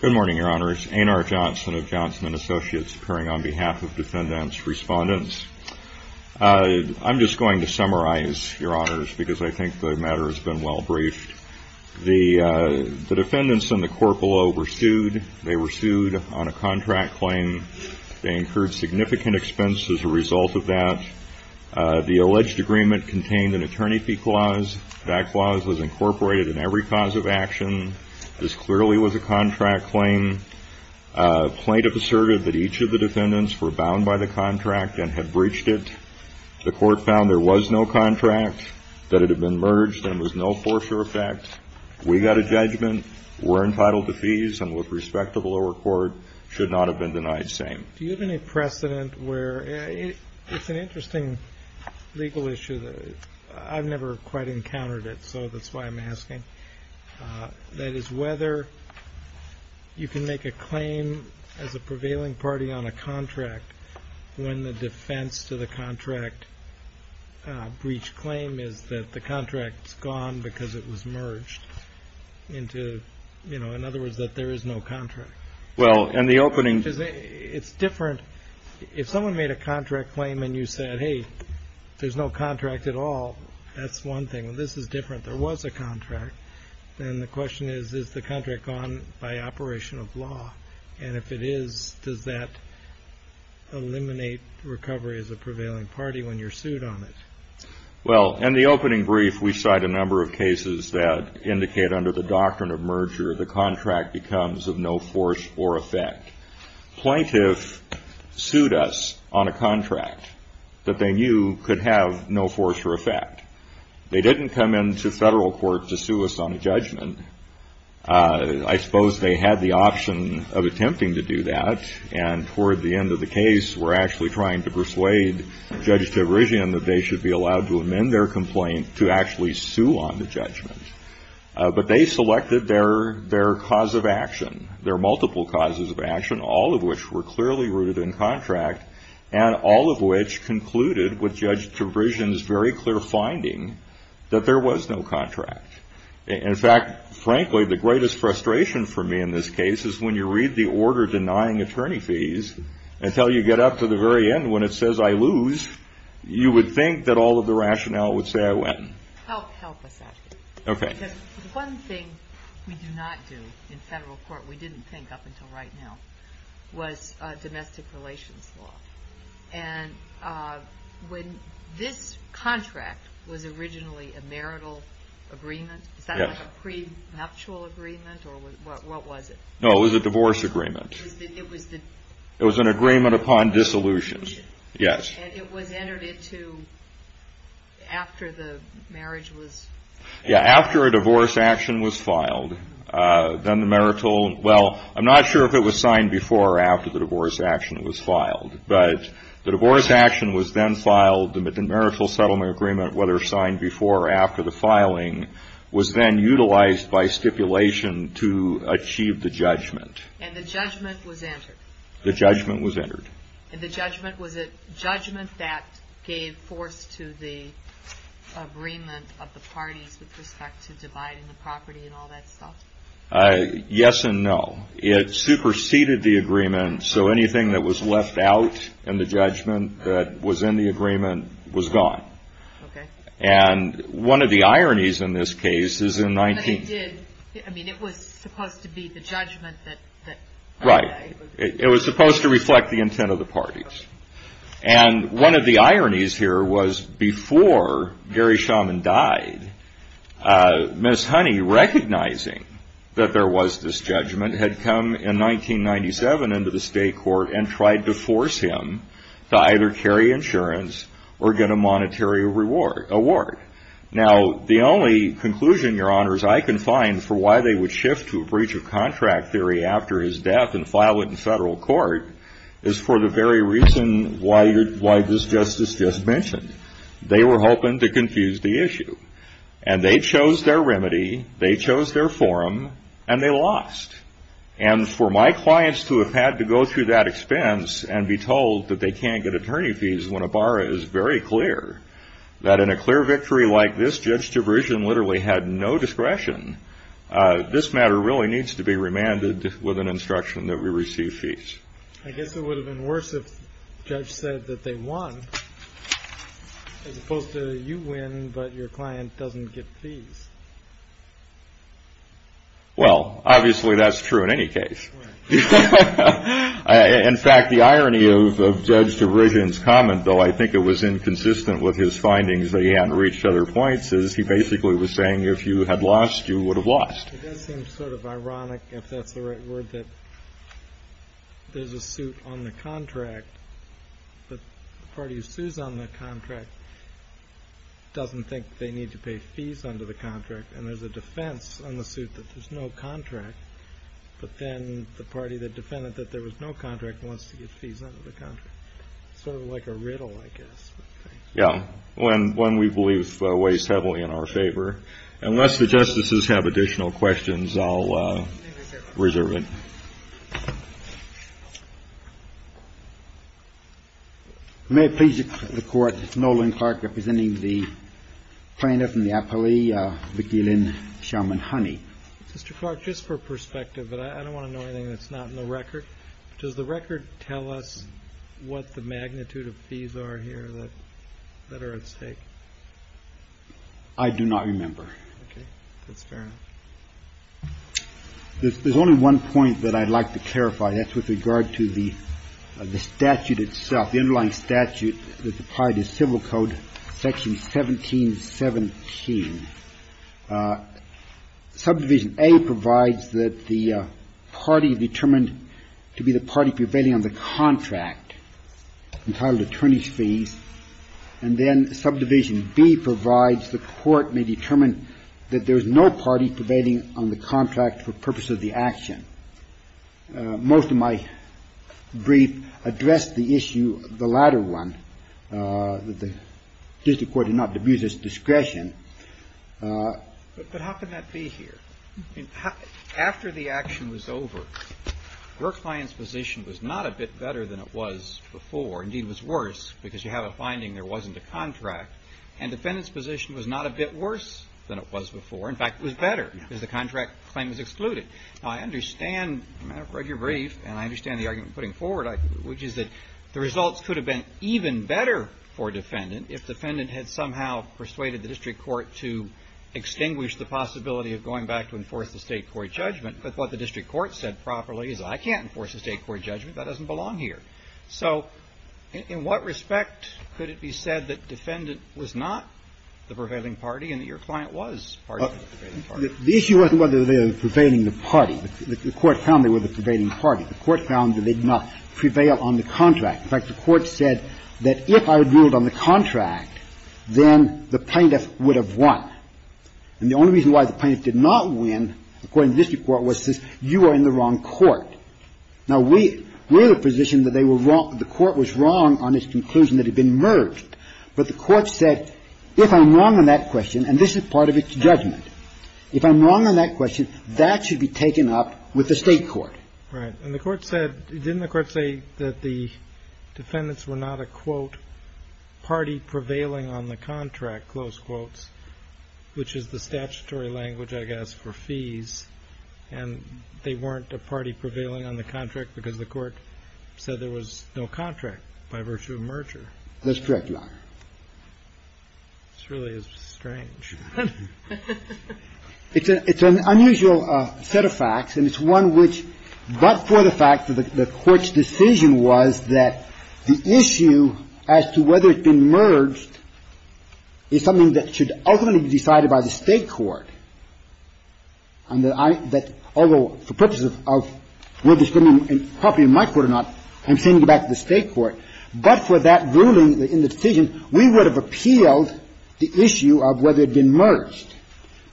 Good morning, Your Honors. A. N. R. Johnson of Johnson & Associates appearing on behalf of defendants' respondents. I'm just going to summarize, Your Honors, because I think the matter has been well briefed. The defendants in the court below were sued. They were sued on a contract claim. They incurred significant expenses as a result of that. The alleged agreement contained an attorney fee clause. That clause was incorporated in every cause of action. This clearly was a contract claim. Plaintiff asserted that each of the defendants were bound by the contract and had breached it. The court found there was no contract, that it had been merged, and there was no foreshore effect. We got a judgment. We're entitled to fees, and with respect to the lower court, should not have been denied same. Do you have any precedent where – it's an interesting legal issue. I've never quite encountered it, so that's why I'm asking. That is, whether you can make a claim as a the contract's gone because it was merged. In other words, that there is no contract. In the opening – It's different. If someone made a contract claim and you said, hey, there's no contract at all, that's one thing. This is different. There was a contract. Then the question is, is the contract gone by operation of law? If it is, does that eliminate recovery as a prevailing party when you're sued on it? Well, in the opening brief, we cite a number of cases that indicate under the doctrine of merger, the contract becomes of no force or effect. Plaintiff sued us on a contract that they knew could have no force or effect. They didn't come into federal court to sue us on a judgment. I suppose they had the option of attempting to do that, and toward the end of the case, were actually trying to persuade Judge Tabrizian that they should be allowed to amend their complaint to actually sue on the judgment. But they selected their cause of action, their multiple causes of action, all of which were clearly rooted in contract, and all of which concluded with Judge Tabrizian's very clear finding that there was no contract. In fact, frankly, the greatest frustration for me in this case is when you read the order denying attorney fees, until you get up to the very end when it says, I lose, you would think that all of the rationale would say, I win. Help us out here, because one thing we do not do in federal court, we didn't think up until right now, was domestic relations law. And when this contract was originally a marital agreement, is that like a prenuptial agreement, or what was it? No, it was a divorce agreement. It was an agreement upon dissolution. Yes. And it was entered into after the marriage was... Yeah, after a divorce action was filed, then the marital...well, I'm not sure if it was signed before or after the divorce action was filed. But the divorce action was then filed, the marital settlement agreement, whether signed before or after the filing, was then judgment. And the judgment was entered. The judgment was entered. And the judgment, was it judgment that gave force to the agreement of the parties with respect to dividing the property and all that stuff? Yes and no. It superseded the agreement, so anything that was left out in the judgment that was in the agreement was gone. Okay. And one of the ironies in this case is in 19... I mean, it was supposed to be the judgment that... Right. It was supposed to reflect the intent of the parties. And one of the ironies here was before Gary Shaman died, Miss Honey, recognizing that there was this judgment, had come in 1997 into the state court and tried to force him to either carry insurance or get a monetary award. Now, the only conclusion, Your Honors, I can find for why they would shift to a breach of contract theory after his death and file it in federal court is for the very reason why this Justice just mentioned. They were hoping to confuse the issue. And they chose their remedy, they chose their forum, and they lost. And for my clients to have had to go through that expense and be told that they can't get a victory like this, Judge DeVrigian literally had no discretion. This matter really needs to be remanded with an instruction that we receive fees. I guess it would have been worse if the judge said that they won as opposed to you win, but your client doesn't get fees. Well, obviously that's true in any case. In fact, the irony of Judge DeVrigian's comment, though, I think it was inconsistent with his other points, is he basically was saying if you had lost, you would have lost. It does seem sort of ironic, if that's the right word, that there's a suit on the contract, but the party who sues on the contract doesn't think they need to pay fees under the contract, and there's a defense on the suit that there's no contract, but then the party that defended that there was no contract wants to get fees under the contract. Sort of like a riddle, I guess. Yeah. One we believe weighs heavily in our favor. Unless the justices have additional questions, I'll reserve it. May it please the Court, Nolan Clark representing the plaintiff and the appellee, Vicky Lynn Sherman-Honey. Mr. Clark, just for perspective, but I don't want to know anything that's not in the record. Does the record tell us what the magnitude of fees are here that are at stake? I do not remember. Okay. That's fair enough. There's only one point that I'd like to clarify, and that's with regard to the statute itself. The underlying statute that's applied is Civil Code Section 1717. Subdivision A provides that the party determined to be the party prevailing on the contract, entitled attorney's fees, and then Subdivision B provides the court may determine that there is no party prevailing on the contract for purpose of the action. Most of my brief addressed the issue, the latter one, that the district court did not But how can that be here? After the action was over, your client's position was not a bit better than it was before. Indeed, it was worse, because you have a finding there wasn't a contract. And the defendant's position was not a bit worse than it was before. In fact, it was better, because the contract claim was excluded. Now, I understand your brief, and I understand the argument you're putting forward, which is that the results could have been even better for a defendant if the defendant had somehow persuaded the district court to extinguish the possibility of going back to enforce the State court judgment. But what the district court said properly is I can't enforce the State court judgment. That doesn't belong here. So in what respect could it be said that defendant was not the prevailing party and that your client was part of the prevailing party? The issue wasn't whether they were the prevailing party. The court found they were the prevailing party. The court found that they did not prevail on the contract. In fact, the court said that if I had ruled on the contract, then the plaintiff would have won. And the only reason why the plaintiff did not win, according to the district court, was because you are in the wrong court. Now, we have a position that they were wrong, the court was wrong on its conclusion that it had been merged. But the court said if I'm wrong on that question, and this is part of its judgment, if I'm wrong on that question, that should be taken up with the State court. Right. And the court said, didn't the court say that the defendants were not a, quote, party prevailing on the contract, close quotes, which is the statutory language, I guess, for fees, and they weren't a party prevailing on the contract because the court said there was no contract by virtue of merger? That's correct, Your Honor. This really is strange. It's an unusual set of facts, and it's one which, but for the fact that the court's decision was that the issue as to whether it had been merged is something that should ultimately be decided by the State court. And that although for purposes of whether it's been properly in my court or not, I'm sending it back to the State court, but for that ruling in the decision, we would have appealed the issue of whether it had been merged.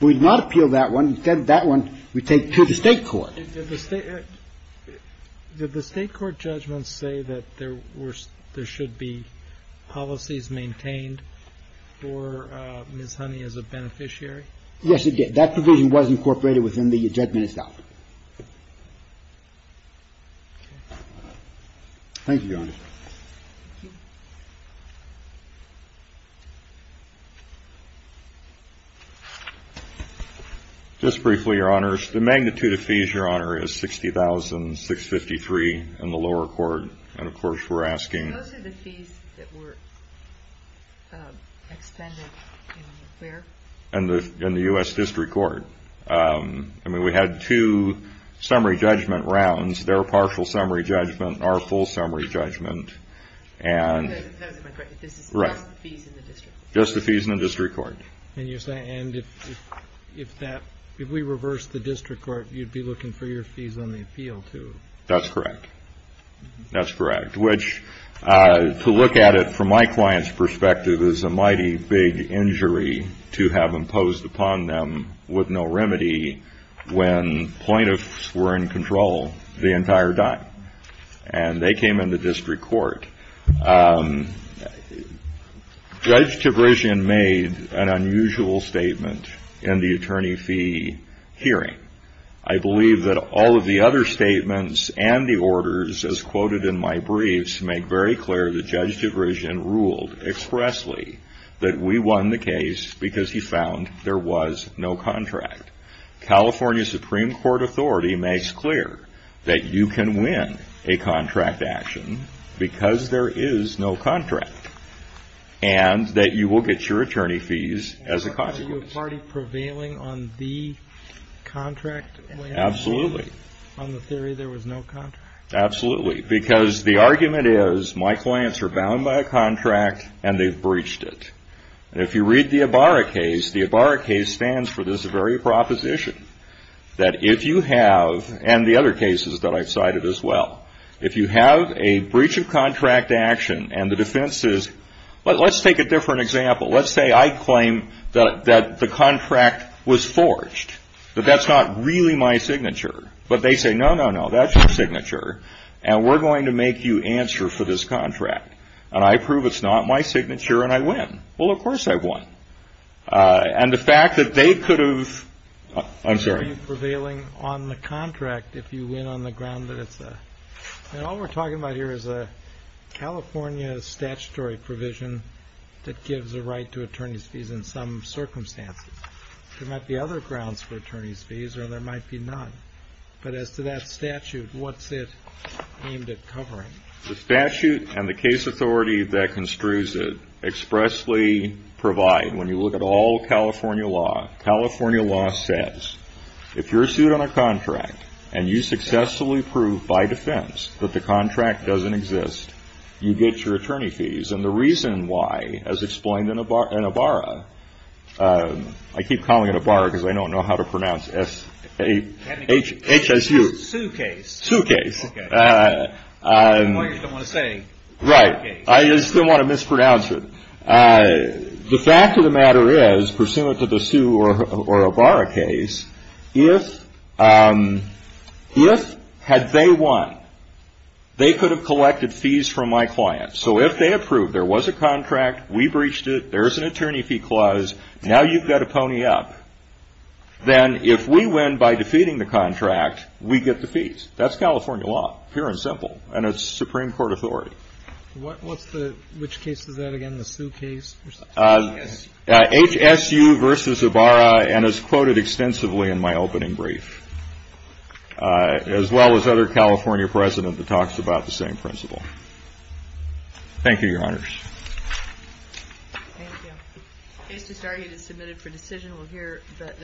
We would not appeal that one. That one we take to the State court. Did the State court judgments say that there should be policies maintained for Ms. Honey as a beneficiary? Yes, it did. Thank you, Your Honor. Just briefly, Your Honor, the magnitude of fees, Your Honor, is $60,653 in the lower court, and, of course, we're asking. Those are the fees that were expended in where? In the U.S. District Court. I mean, we had two summary judgment rounds. That's correct. That's correct, which, to look at it from my client's perspective, is a mighty big injury to have imposed upon them with no remedy when plaintiffs were in control the entire time. And they had to pay $60,653. Judge DeVrishian made an unusual statement in the attorney fee hearing. I believe that all of the other statements and the orders, as quoted in my briefs, make very clear that Judge DeVrishian ruled expressly that we won the case because he found there was no contract. California Supreme Court authority makes clear that you can win a contract action because there is no contract, and that you will get your attorney fees as a consequence. Are you a party prevailing on the contract? Absolutely. On the theory there was no contract? Absolutely, because the argument is my clients are bound by a contract, and they've breached it. If you read the Ibarra case, the Ibarra case stands for this very proposition, that if you have, and the other cases that I've cited as well, if you have a breach of contract action and the defense is, well, let's take a different example. Let's say I claim that the contract was forged, that that's not really my signature. But they say, no, no, no, that's your signature, and we're going to make you answer for this contract. And I prove it's not my signature, and I win. Well, of course I won. And the fact that they could have, I'm sorry. Are you prevailing on the contract if you win on the ground that it's a, and all we're talking about here is a California statutory provision that gives a right to attorney's fees in some circumstances. There might be other grounds for attorney's fees, or there might be none. But as to that statute, what's it aimed at covering? The statute and the case authority that construes it expressly provide, when you look at all California law, California law says if you're sued on a contract that doesn't exist, you get your attorney fees. And the reason why, as explained in Ibarra, I keep calling it Ibarra because I don't know how to pronounce S-H-S-U. Sue case. Sue case. I just don't want to mispronounce it. The fact of the matter is, pursuant to the Sue or Ibarra case, if had they won, they could have collected fees from my client. So if they approved, there was a contract, we breached it, there's an attorney fee clause, now you've got a pony up. Then if we win by defeating the contract, we get the fees. That's California law, pure and simple. And it's Supreme Court authority. What's the, which case is that again, the Sue case? H-S-U. H-S-U versus Ibarra, and it's quoted extensively in my opening brief. As well as other California precedent that talks about the same principle.